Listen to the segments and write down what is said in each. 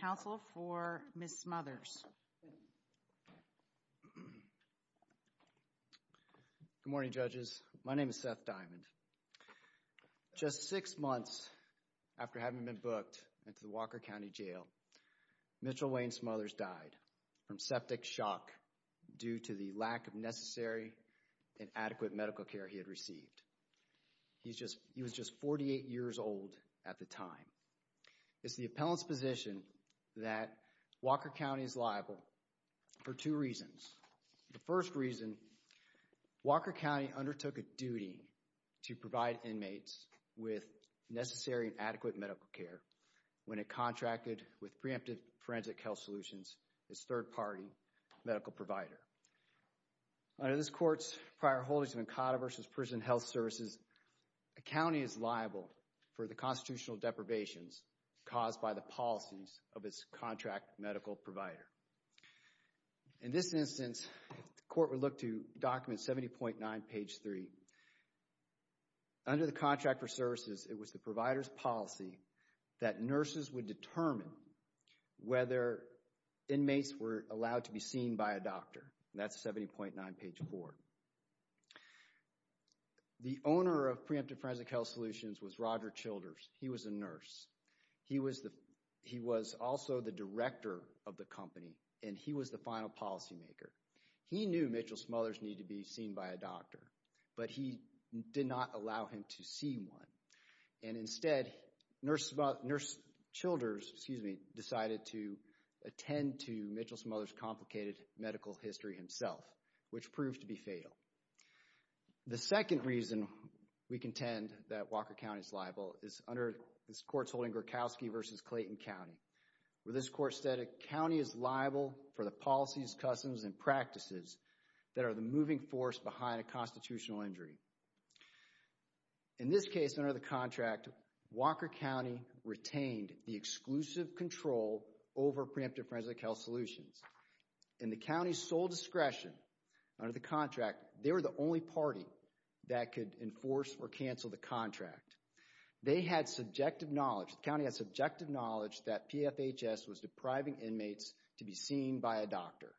Counsel for Ms. Smothers. Good morning judges. My name is Seth Diamond. Just six months after having been booked into the Walker County Jail, Mitchell Wayne Smothers died from septic shock due to the lack of necessary and adequate medical care he had received. He was just 48 years old at the time. It's the appellant's position that Walker County is liable for two reasons. The first reason, Walker County undertook a duty to provide inmates with necessary and adequate medical care when it contracted with Preemptive Forensic Health Solutions, its third-party medical provider. Under this court's prior holdings of Encada v. Prison Health Services, a county is liable for the deprivations caused by the policies of its contract medical provider. In this instance, the court would look to document 70.9 page 3. Under the contract for services, it was the provider's policy that nurses would determine whether inmates were allowed to be seen by a doctor. That's 70.9 page 4. The owner of Preemptive Forensic Health Solutions was Roger Childers. He was a nurse. He was also the director of the company, and he was the final policymaker. He knew Mitchell Smothers needed to be seen by a doctor, but he did not allow him to see one. And instead, Nurse Childers decided to attend to Mitchell Smothers' complicated medical history himself, which proved to be fatal. The second reason we contend that Walker County is liable is under this court's holding Gorkowski v. Clayton County, where this court said a county is liable for the policies, customs, and practices that are the moving force behind a constitutional injury. In this case, under the contract, Walker County retained the exclusive control over Preemptive Forensic Health Solutions. In the county's sole discretion under the contract, they were the only party that could enforce or cancel the contract. They had subjective knowledge, the county had subjective knowledge, that PFHS was depriving inmates to be seen by a doctor.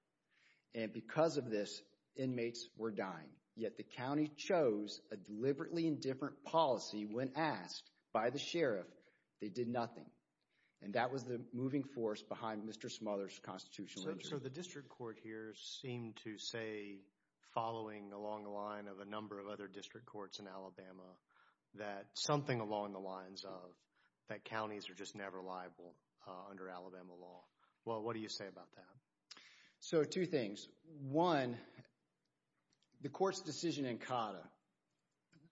And because of this, inmates were dying. Yet the county chose a deliberately indifferent policy when asked by the sheriff. They did nothing. And that was the moving force behind Mr. Smothers' constitutional injury. So the district court here seemed to say, following along the line of a number of other district courts in Alabama, that something along the lines of that counties are just never liable under Alabama law. Well, what do you say about that? So two things. One, the court's decision in Cotta,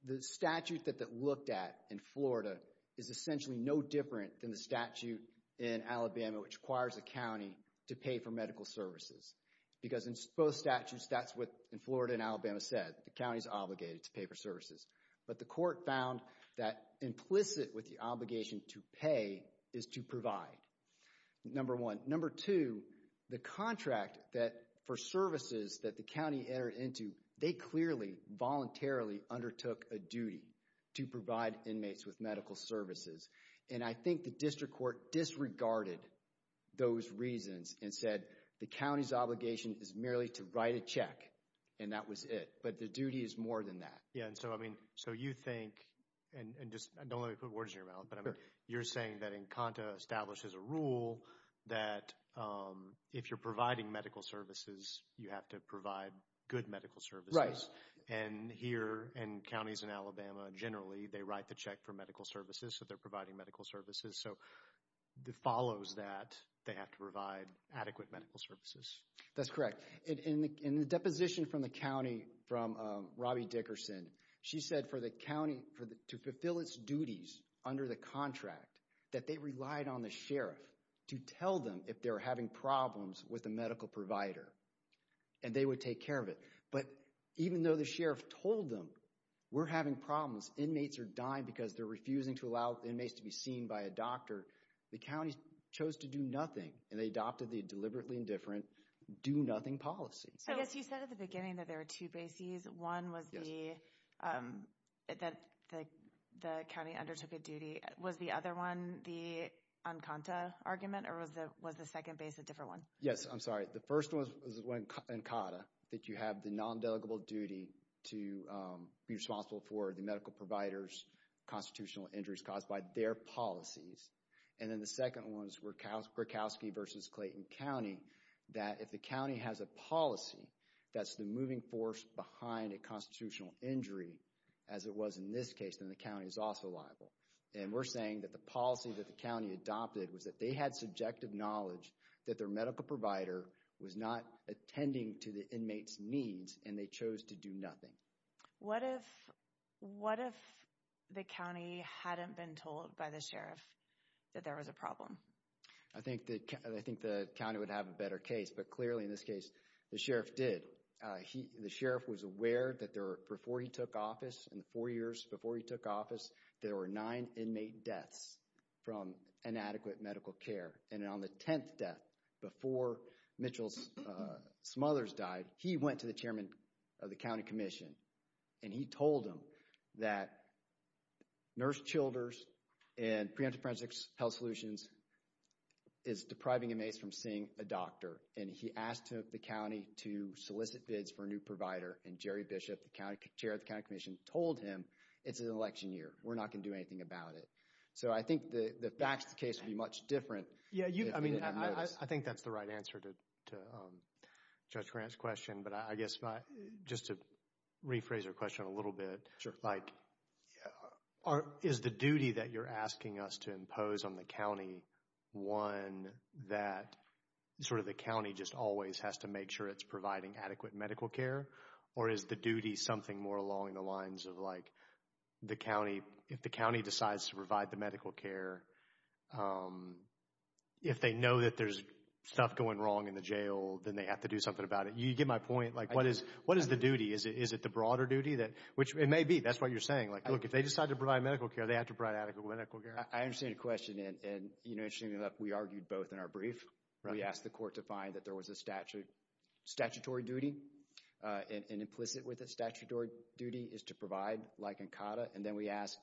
the statute that that looked at in Florida is essentially no different than the statute in Alabama, which requires a county to pay for medical services. Because in both statutes, that's what in Florida and Alabama said. The county's obligated to pay for services. But the court found that implicit with the obligation to pay is to provide. Number one. Number two, the contract that for services that the county entered into, they clearly voluntarily undertook a duty to provide inmates with medical services. And I think the district court disregarded those reasons and said, the county's obligation is merely to write a check. And that was it. But the duty is more than that. Yeah. And so, I mean, so you think, and just don't let me put words in your mouth, but I mean, you're saying that in Cotta establishes a rule that if you're providing medical services, you have to provide good medical services. Right. And here in counties in Alabama, generally, they write the check for medical services. So they're providing medical services. So it follows that they have to provide adequate medical services. That's correct. In the deposition from the county, from Robbie Dickerson, she said for the county to fulfill its duties under the contract, that they relied on the sheriff to tell them if they were having problems with the medical provider. And they would take care of it. But even though the sheriff told them, we're having problems, inmates are dying because they're refusing to allow inmates to be seen by a doctor, the county chose to do nothing. And they adopted the deliberately indifferent, do-nothing policy. I guess you said at the beginning that there are two bases. One was the, that the county undertook a duty. Was the other one the Encanta argument? Or was the, was the second base a different one? Yes. I'm sorry. The first one was when, in Cotta, that you have the non-delegable duty to be responsible for the medical providers, constitutional injuries caused by their policies. And then the second ones were Krakowski versus Clayton County, that if the county has a policy that's the moving force behind a constitutional injury, as it was in this case, then the county is also liable. And we're saying that the policy that the county adopted was that they had subjective knowledge that their medical provider was not attending to the and they chose to do nothing. What if, what if the county hadn't been told by the sheriff that there was a problem? I think that, I think the county would have a better case. But clearly in this case, the sheriff did. He, the sheriff was aware that there, before he took office, in the four years before he took office, there were nine inmate deaths from inadequate medical care. And on the 10th death, before Mitchell's mother's died, he went to the chairman of the county commission. And he told him that Nurse Childers and Preemptive Forensics Health Solutions is depriving inmates from seeing a doctor. And he asked the county to solicit bids for a new provider. And Jerry Bishop, the county chair of the county commission, told him, it's an election year. We're not going to do anything about it. So I think the facts of the case would be much different. Yeah, you, I mean, I think that's the right answer to Judge Grant's question. But I guess, just to rephrase your question a little bit. Sure. Like, is the duty that you're asking us to impose on the county one that sort of the county just always has to make sure it's providing adequate medical care? Or is the duty something more along the lines of like, the county, if the county if they know that there's stuff going wrong in the jail, then they have to do something about it. You get my point. Like, what is, what is the duty? Is it the broader duty that, which it may be. That's what you're saying. Like, look, if they decide to provide medical care, they have to provide adequate medical care. I understand your question. And, you know, interestingly enough, we argued both in our brief. We asked the court to find that there was a statute, statutory duty. And implicit with a statutory duty is to provide like an CADAA. And then we asked,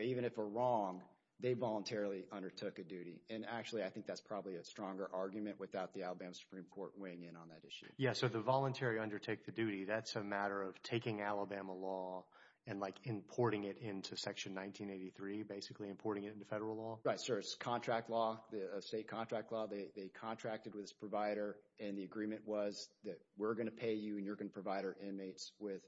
even if we're wrong, they voluntarily undertook a duty. And actually, I think that's probably a stronger argument without the Alabama Supreme Court weighing in on that issue. Yeah. So the voluntary undertake the duty, that's a matter of taking Alabama law and like importing it into Section 1983, basically importing it into federal law. Right. So it's contract law, the state contract law. They contracted with this provider. And the agreement was that we're going to pay you and you're going to provide our inmates with,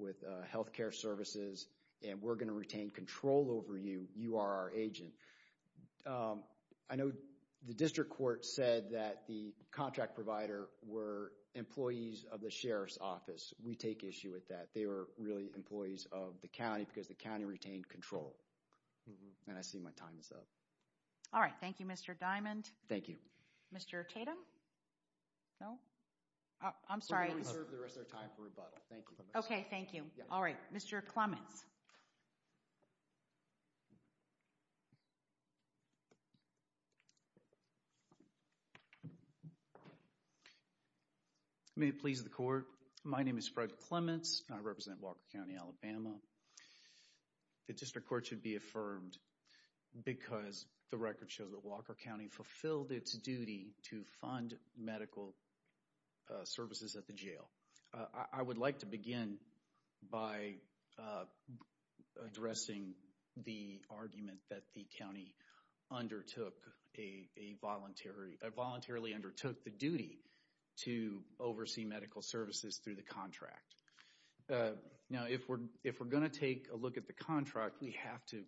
with health care services. And we're going to retain control over you. You are our agent. I know the district court said that the contract provider were employees of the Sheriff's Office. We take issue with that. They were really employees of the county because the county retained control. And I see my time is up. All right. Thank you, Mr. Diamond. Thank you. Mr. Tatum? No? I'm sorry. We're going to reserve the rest of our time for rebuttal. Thank you. Okay. Thank you. All right. Mr. Clements? May it please the court. My name is Fred Clements and I represent Walker County, Alabama. The district court should be affirmed because the record shows that Walker County fulfilled its duty to fund medical services at the jail. I would like to begin by addressing the argument that the county undertook a voluntary, voluntarily undertook the duty to oversee medical services through the contract. Now, if we're, if we're going to take a look at the contract, we have to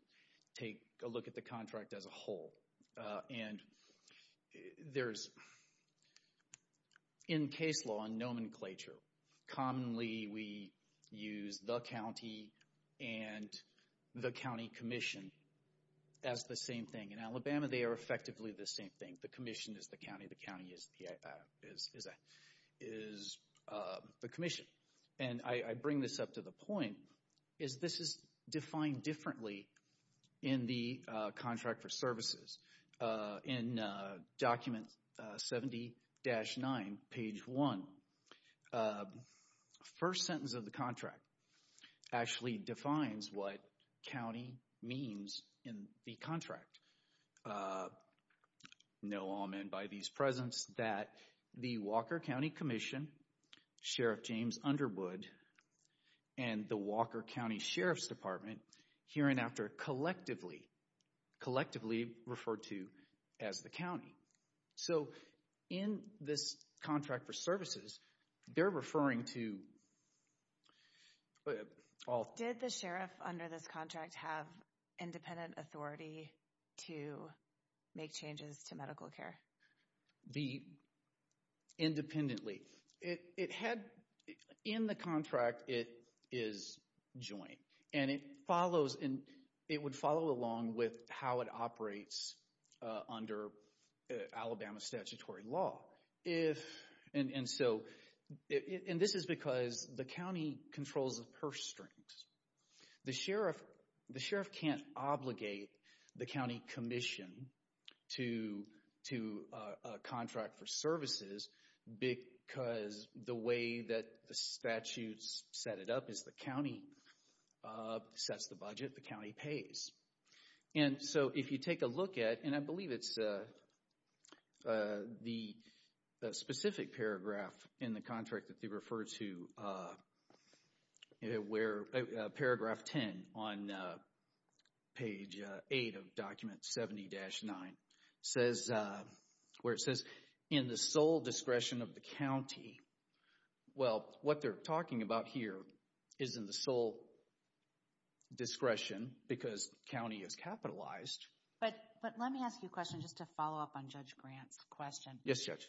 take a look at the contract as a whole. And there's, in case law and nomenclature, commonly we use the county and the county commission as the same thing. In Alabama, they are effectively the same thing. The commission is the county. The county is the commission. And I bring this up to the point, is this is defined differently in the contract for services. In document 70-9, page 1, first sentence of the contract actually defines what county means in the contract. Know all men by these presents that the Walker County Commission, Sheriff James Underwood, and the Walker County Sheriff's Department here and after collectively, collectively referred to as the county. So, in this contract for services, they're referring to all... Did the sheriff under this contract have independent authority to make changes to medical care? Independently. It had, in the contract, it is joint. And it follows, and it would follow along with how it operates under Alabama statutory law. If, and so, and this is because the county controls the purse strings. The county controls the purse strings to a contract for services because the way that the statutes set it up is the county sets the budget, the county pays. And so, if you take a look at, and I believe it's the specific paragraph in the contract that they refer to, where paragraph 10 on page 8 of document 70-9 says, where it says, in the sole discretion of the county. Well, what they're talking about here is in the sole discretion because the county is capitalized. But, but let me ask you a question just to follow up on Judge Grant's question. Yes, Judge.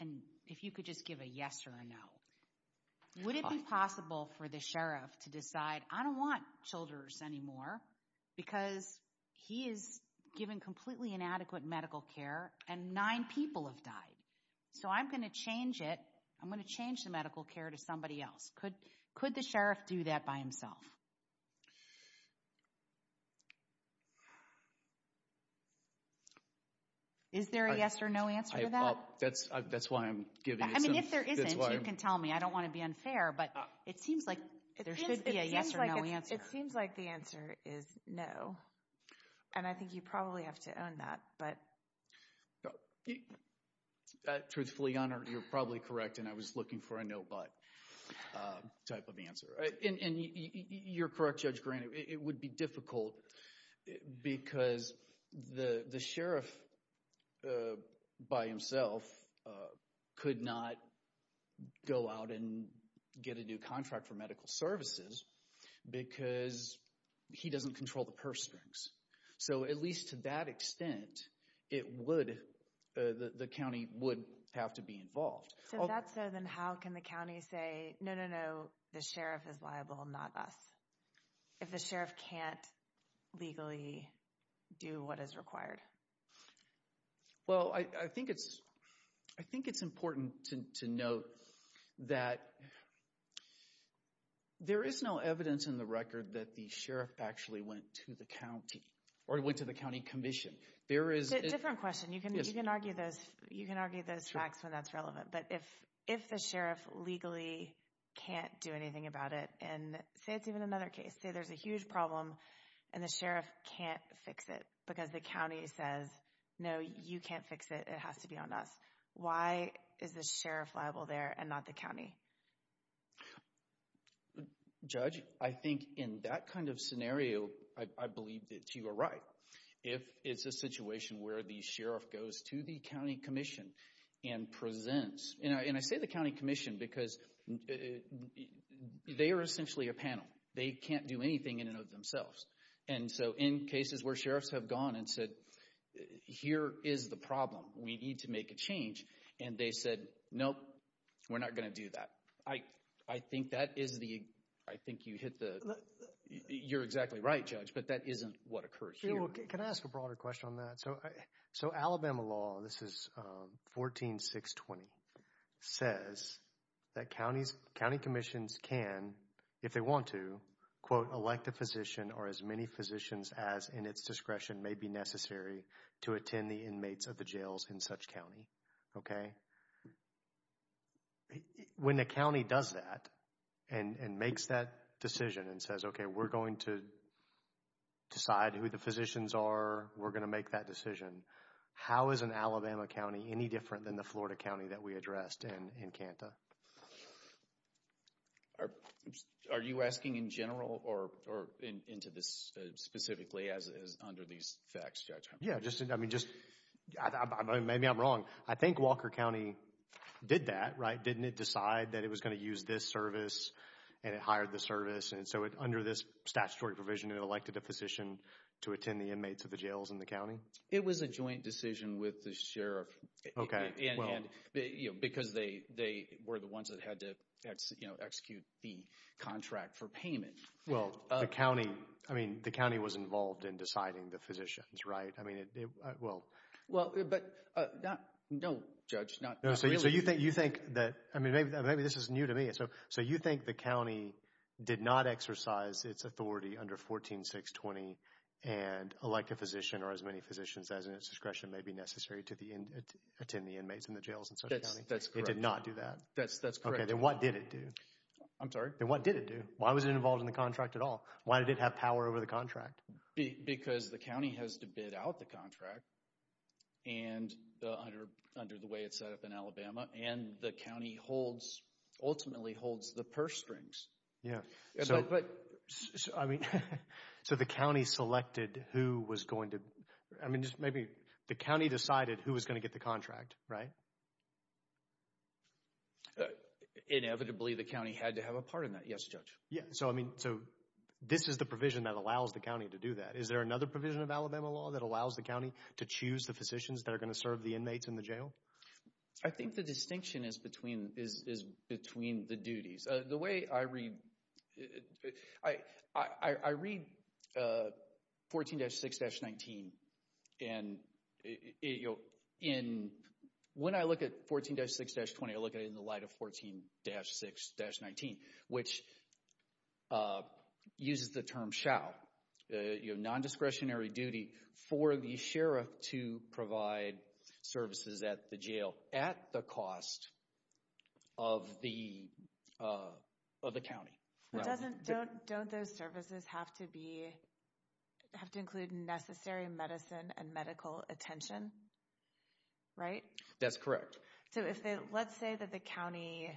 And if you could just give a yes or a no. Would it be possible for the sheriff to decide, I don't want children's anymore because he is given completely inadequate medical care and nine people have died. So, I'm going to change it. I'm going to change the medical care to somebody else. Could, could the sheriff do that by himself? Is there a yes or no answer to that? That's, that's why I'm giving this. I mean, if there isn't, you can tell me. I don't want to be unfair, but it seems like there should be a yes or no answer. It seems like the answer is no. And I think you probably have to own that, but. Truthfully, Your Honor, you're probably correct, and I was looking for a no but type of answer. And you're correct, Judge Grant. It would be difficult because the sheriff by himself could not go out and get a new contract for medical services because he doesn't control the purse strings. So, at least to that extent, it would, the county would have to be involved. So, if that's so, then how can the county say, no, no, no, the sheriff is liable, not us? If the sheriff can't legally do what is required? Well, I think it's, I think it's important to note that there is no evidence in the record that the sheriff actually went to the county or went to the county commission. There is... It's a different question. You can argue those facts when that's relevant. But if the sheriff legally can't do anything about it, and say it's even another case, say there's a huge problem and the sheriff can't fix it because the county says, no, you can't fix it. It has to be on us. Why is the sheriff liable there and not the county? Judge, I think in that kind of scenario, I believe that you are right. If it's a situation where the sheriff goes to the county commission and presents, and I say the county commission because they are essentially a panel. They can't do anything in and of themselves. And so, in cases where sheriffs have gone and said, here is the problem. We need to make a change. And they said, nope, we're not going to do that. I think that is the, I think you hit the, you're exactly right, Judge, but that isn't what occurs here. Yeah, well, can I ask a broader question on that? So Alabama law, this is 14-620, says that county commissions can, if they want to, quote, elect a physician or as many physicians as in its discretion may be necessary to attend the inmates of the jails in such county. Okay? When the county does that and makes that decision and says, okay, we're going to decide who the physicians are, we're going to make that decision, how is an Alabama county any different than the Florida county that we addressed in Kanta? Are you asking in general or into this specifically as under these facts, Judge? Yeah, just, I mean, just, maybe I'm wrong. I think Walker County did that, right? Didn't it decide that it was going to use this service and it hired the service? And so under this statutory provision, it elected a physician to attend the inmates of the jails in the county? It was a joint decision with the sheriff. Okay, well. And, you know, because they were the ones that had to, you know, execute the contract for payment. Well, the county, I mean, the county was involved in deciding the physicians, right? I mean, it, well. Well, but, no, Judge, not really. So you think that, I mean, maybe this is new to me. So you think the county did not exercise its authority under 14620 and elect a physician or as many physicians as in its discretion may be necessary to attend the inmates in the jails in such a county? That's correct. It did not do that? That's correct. Okay, then what did it do? I'm sorry? Then what did it do? Why was it involved in the contract at all? Why did it have power over the contract? Because the county has to bid out the contract and under the way it's set up in Alabama. And the county holds, ultimately holds, the purse strings. Yeah, but, I mean, so the county selected who was going to, I mean, just maybe the county decided who was going to get the contract, right? Inevitably, the county had to have a part in that, yes, Judge. Yeah, so, I mean, so this is the provision that allows the county to do that. Is there another provision of Alabama law that allows the county to choose the physicians that are going to serve the inmates in the jail? I think the distinction is between the duties. The way I read, I read 14-6-19, and when I look at 14-6-20, I look at it in the light of 14-6-19, which uses the term shall. You have non-discretionary duty for the sheriff to provide services at the jail at the cost of the county. Don't those services have to be, have to include necessary medicine and medical attention, right? That's correct. So, let's say that the county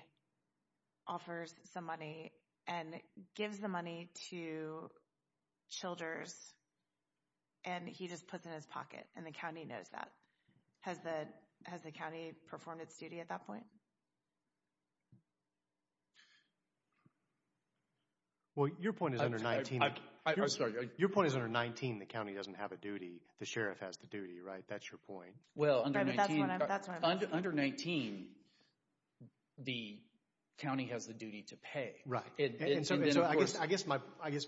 offers some money and gives the money to Childers, and he just puts it in his pocket, and the county knows that. Has the county performed its duty at that point? Well, your point is under 19. I'm sorry. Your point is under 19, the county doesn't have a duty. The sheriff has the duty, right? That's your point. Right, but that's what I'm asking. Under 19, the county has the duty to pay. Right, and so I guess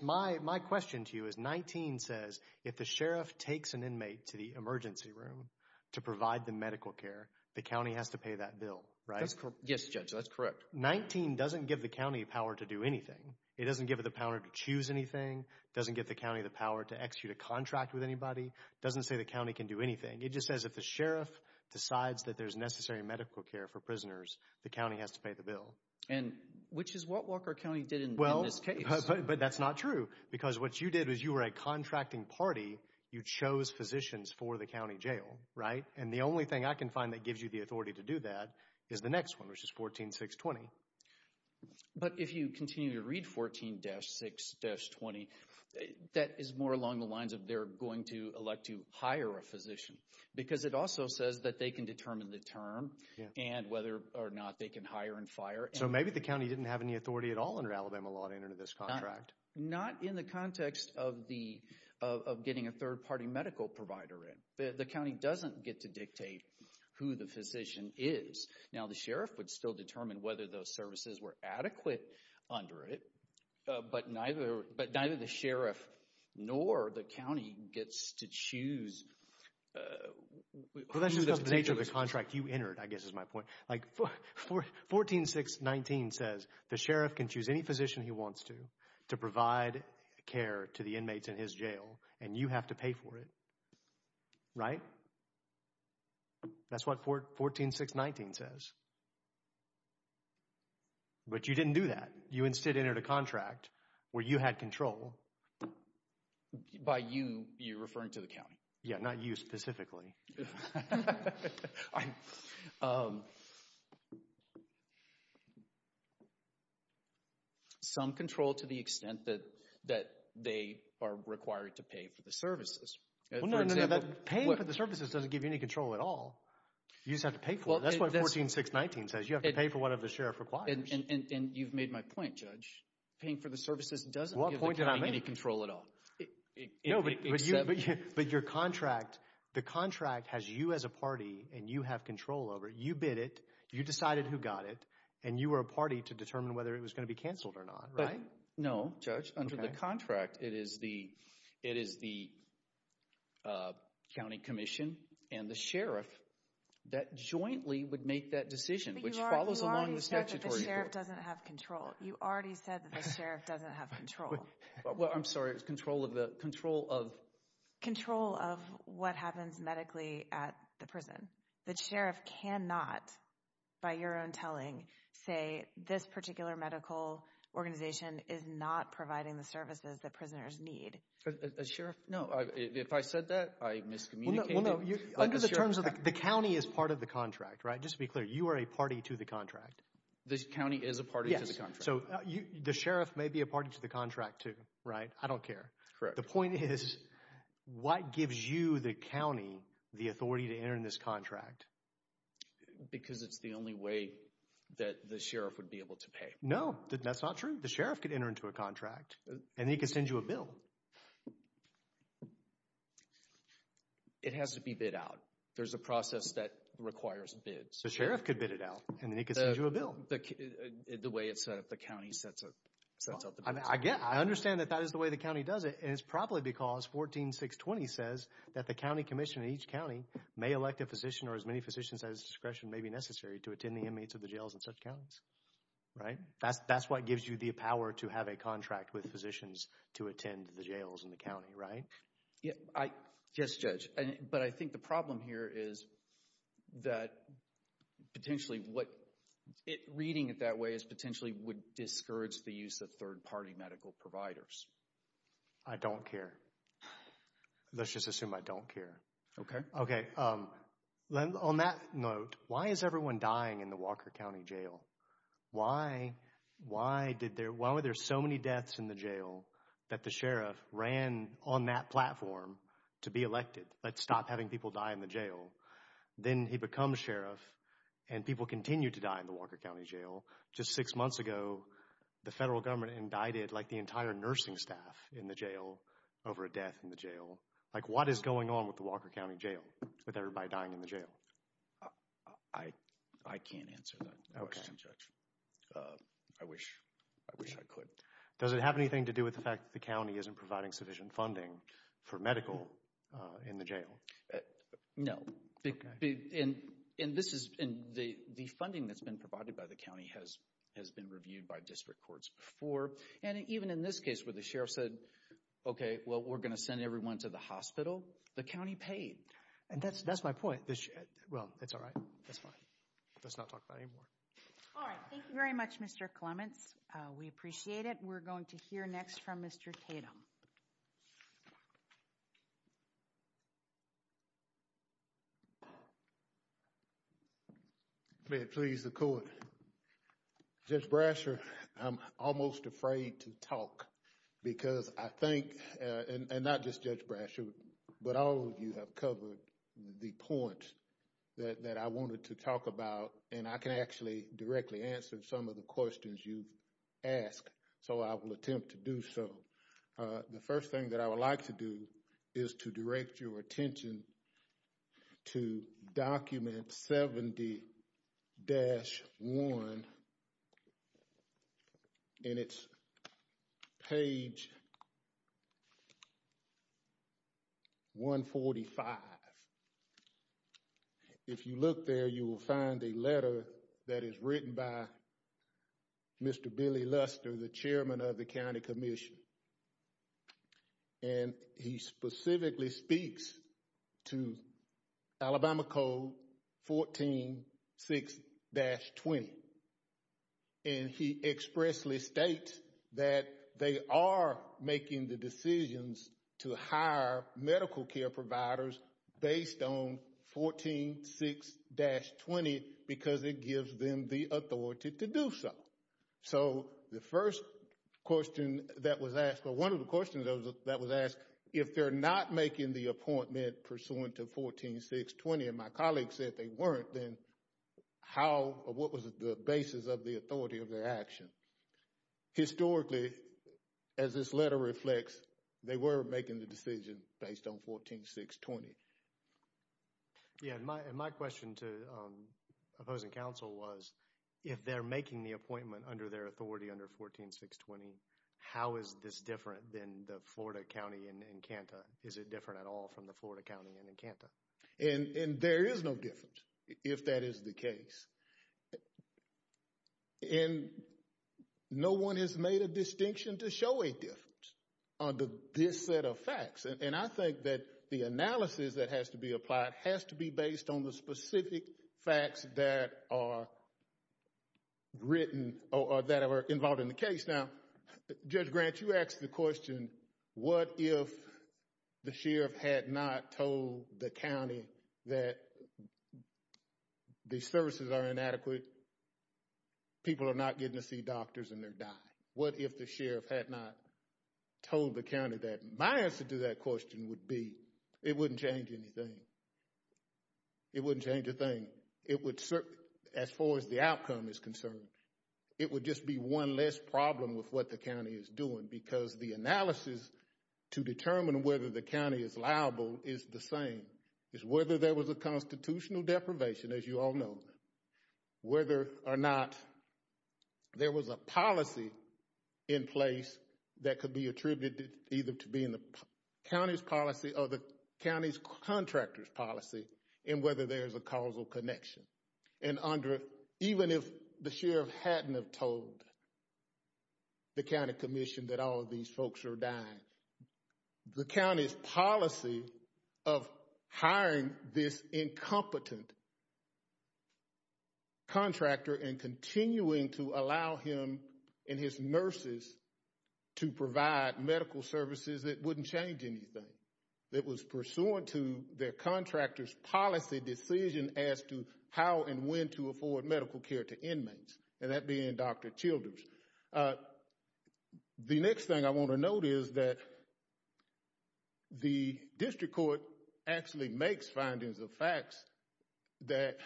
my question to you is 19 says if the sheriff takes an inmate to the emergency room to provide the medical care, the county has to pay that bill, right? That's correct. Yes, Judge, that's correct. 19 doesn't give the county power to do anything. It doesn't give it the power to choose anything. It doesn't give the county the power to execute a contract with anybody. It doesn't say the county can do anything. It just says if the sheriff decides that there's necessary medical care for prisoners, the county has to pay the bill. And which is what Walker County did in this case. But that's not true, because what you did was you were a contracting party. You chose physicians for the county jail, right? And the only thing I can find that gives you the authority to do that is the next one, which is 14-620. But if you continue to read 14-620, that is more along the lines of they're going to elect to hire a physician, because it also says that they can determine the term and whether or not they can hire and fire. So maybe the county didn't have any authority at all under Alabama law to enter into this contract. Not in the context of getting a third-party medical provider in. The county doesn't get to dictate who the physician is. Now, the sheriff would still determine whether those services were adequate under it, but neither the sheriff nor the county gets to choose who the physician is. Well, that's just the nature of the contract you entered, I guess is my point. Like, 14-619 says the sheriff can choose any physician he wants to to provide care to the inmates in his jail, and you have to pay for it, right? That's what 14-619 says. But you didn't do that. You instead entered a contract where you had control. By you, you're referring to the county? Yeah, not you specifically. Some control to the extent that they are required to pay for the services. Paying for the services doesn't give you any control at all. You just have to pay for it. That's what 14-619 says. You have to pay for whatever the sheriff requires. And you've made my point, Judge. Paying for the services doesn't give the county any control at all. No, but your contract, the contract has you as a party, and you have control over it. You bid it. You decided who got it. And you were a party to determine whether it was going to be canceled or not, right? No, Judge. Under the contract, it is the county commission and the sheriff that jointly would make that decision, which follows along the statutory bill. But you already said that the sheriff doesn't have control. You already said that the sheriff doesn't have control. Well, I'm sorry. It's control of the, control of? Control of what happens medically at the prison. The sheriff cannot, by your own telling, say this particular medical organization is not providing the services. That prisoners need. A sheriff? No, if I said that, I miscommunicated. Well, no. Under the terms of, the county is part of the contract, right? Just to be clear, you are a party to the contract. The county is a party to the contract. So the sheriff may be a party to the contract, too, right? I don't care. Correct. The point is, what gives you, the county, the authority to enter in this contract? Because it's the only way that the sheriff would be able to pay. No, that's not true. The sheriff could enter into a contract, and then he could send you a bill. It has to be bid out. There's a process that requires bids. The sheriff could bid it out, and then he could send you a bill. The way it's set up. The county sets up the bids. I understand that that is the way the county does it, and it's probably because 14.620 says that the county commission in each county may elect a physician or as many physicians at his discretion may be necessary to attend the inmates of the jails in such counties, right? That's what gives you the power to have a contract with physicians to attend the jails in the county, right? Yes, Judge. But I think the problem here is that potentially what reading it that way is potentially would discourage the use of third-party medical providers. I don't care. Let's just assume I don't care. Okay. On that note, why is everyone dying in the Walker County Jail? Why were there so many deaths in the jail that the sheriff ran on that platform to be elected? Stop having people die in the jail. Then he becomes sheriff, and people continue to die in the Walker County Jail. Just six months ago, the federal government indicted the entire nursing staff in the jail over a death in the jail. What is going on with the Walker County Jail with everybody dying in the jail? I can't answer that. Okay. I wish I could. Does it have anything to do with the fact that the county isn't providing sufficient funding for medical in the jail? No. The funding that's been provided by the county has been reviewed by district courts before, and even in this case where the sheriff said, we're going to send everyone to the hospital, the county paid. That's my point. Well, that's all right. Let's not talk about it anymore. All right. Thank you very much, Mr. Clements. We appreciate it. We're going to hear next from Mr. Tatum. May it please the court. Judge Brasher, I'm almost afraid to talk because I think, and not just Judge Brasher, but all of you have covered the points that I wanted to talk about, and I can actually directly answer some of the questions you've asked, so I will attempt to do so. The first thing that I would like to do is to direct your attention to document 70-1 and it's page 145. If you look there, you will find a letter that is written by Mr. Billy Luster, the chairman of the county commission. And he specifically speaks to Alabama Code 14 6-20 and he expressly states that they are making the decisions to hire medical care providers based on 14 6-20 because it gives them the authority to do so. So, the first question that was asked, or one of the questions that was asked, if they're not making the appointment pursuant to 14 6-20, and my colleague said they weren't, then how, or what was the basis of the authority of their action? Historically, as this letter reflects, they were making the decision based on 14 6-20. Yeah, and my question to opposing counsel was, if they're making the appointment under their authority under 14 6-20, how is this different than the Florida County in Encanta? Is it different at all from the Florida County in Encanta? And there is no difference, if that is the case. And no one has made a distinction to show a difference under this set of facts. And I think that the analysis that has to be applied has to be based on the specific facts that are written or that are involved in the case. Now, Judge Grant, you asked the question, what if the sheriff had not told the county that the services are inadequate, people are not getting to see doctors and they're dying? What if the sheriff had not told the county that? My answer to that question would be, it wouldn't change anything. It wouldn't change a thing. As far as the outcome is concerned, it would just be one less problem with what the county is doing because the analysis to determine whether the county is liable is the same. It's whether there was a constitutional deprivation, as you all know, whether or not there was a policy in place that could be attributed either to being the county's policy or the county's contractor's policy and whether there's a causal connection. And even if the sheriff hadn't have told the county commission that all of these folks are dying, the county's policy of hiring this incompetent contractor and continuing to allow him and his nurses to provide medical services, it wouldn't change anything. It was pursuant to their contractor's policy decision as to how and when to afford medical care to inmates, and that being Dr. Childers. The next thing I want to note is that the district court actually makes findings of facts that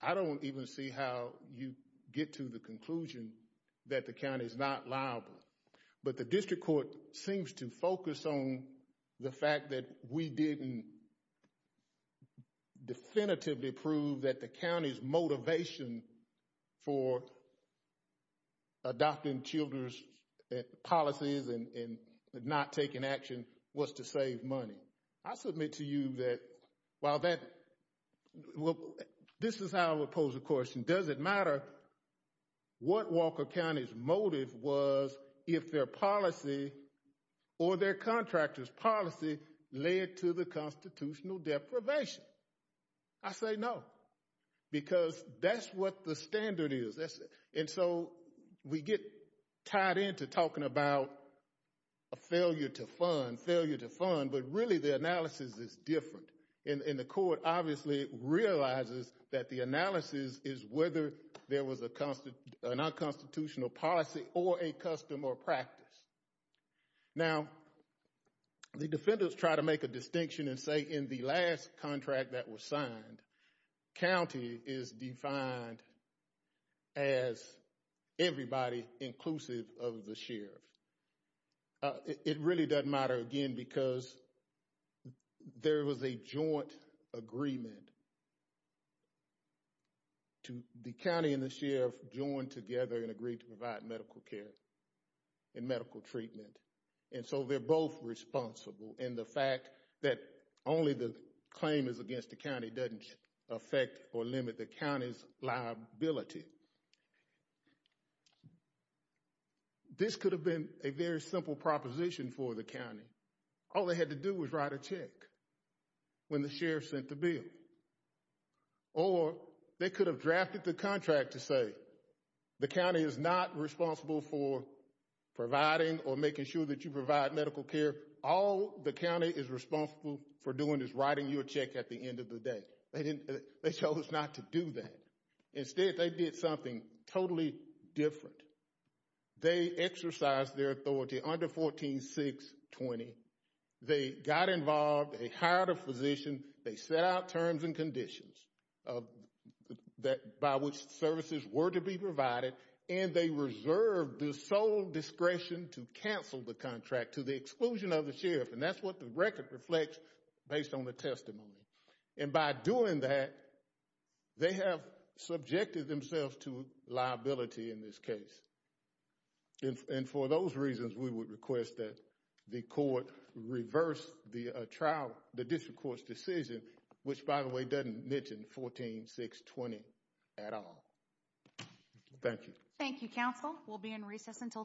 I don't even see how you get to the conclusion that the county is not liable. But the district court seems to focus on the fact that we didn't definitively prove that the county's motivation for adopting Childers' policies and not taking action was to save money. I submit to you that this is how I would pose a question. Does it matter what Walker County's motive was if their policy or their contractor's policy led to the constitutional deprivation? I say no. Because that's what the standard is. And so we get tied into talking about a failure to fund, failure to fund, but really the analysis is different. And the court obviously realizes that the analysis is whether there was a non-constitutional policy or a custom or practice. Now, the defenders try to make a distinction and say in the last contract that was signed, county is defined as everybody inclusive of the sheriff. It really doesn't matter again because there was a joint agreement to the county and the sheriff joined together and agreed to provide medical care and medical treatment. And so they're both responsible in the fact that only the claim is against the county doesn't affect or limit the county's liability. This could have been a very simple proposition for the county. All they had to do was write a check when the sheriff sent the bill. Or they could have drafted the contract to say the county is not responsible for providing or making sure that you provide medical care. All the county is responsible for doing is writing your check at the end of the day. They chose not to do that. Instead, they did something totally different. They exercised their authority under 14620. They got involved, they hired a physician, they set out terms and conditions by which services were to be provided, and they reserved the sole discretion to cancel the contract to the exclusion of the sheriff. And that's what the record reflects based on the testimony. And by doing that, they have subjected themselves to liability in this case. And for those reasons, we would request that the court reverse the trial, the district court's decision, which by the way, doesn't mention 14620 at all. Thank you. Thank you, counsel. We'll be in recess until tomorrow.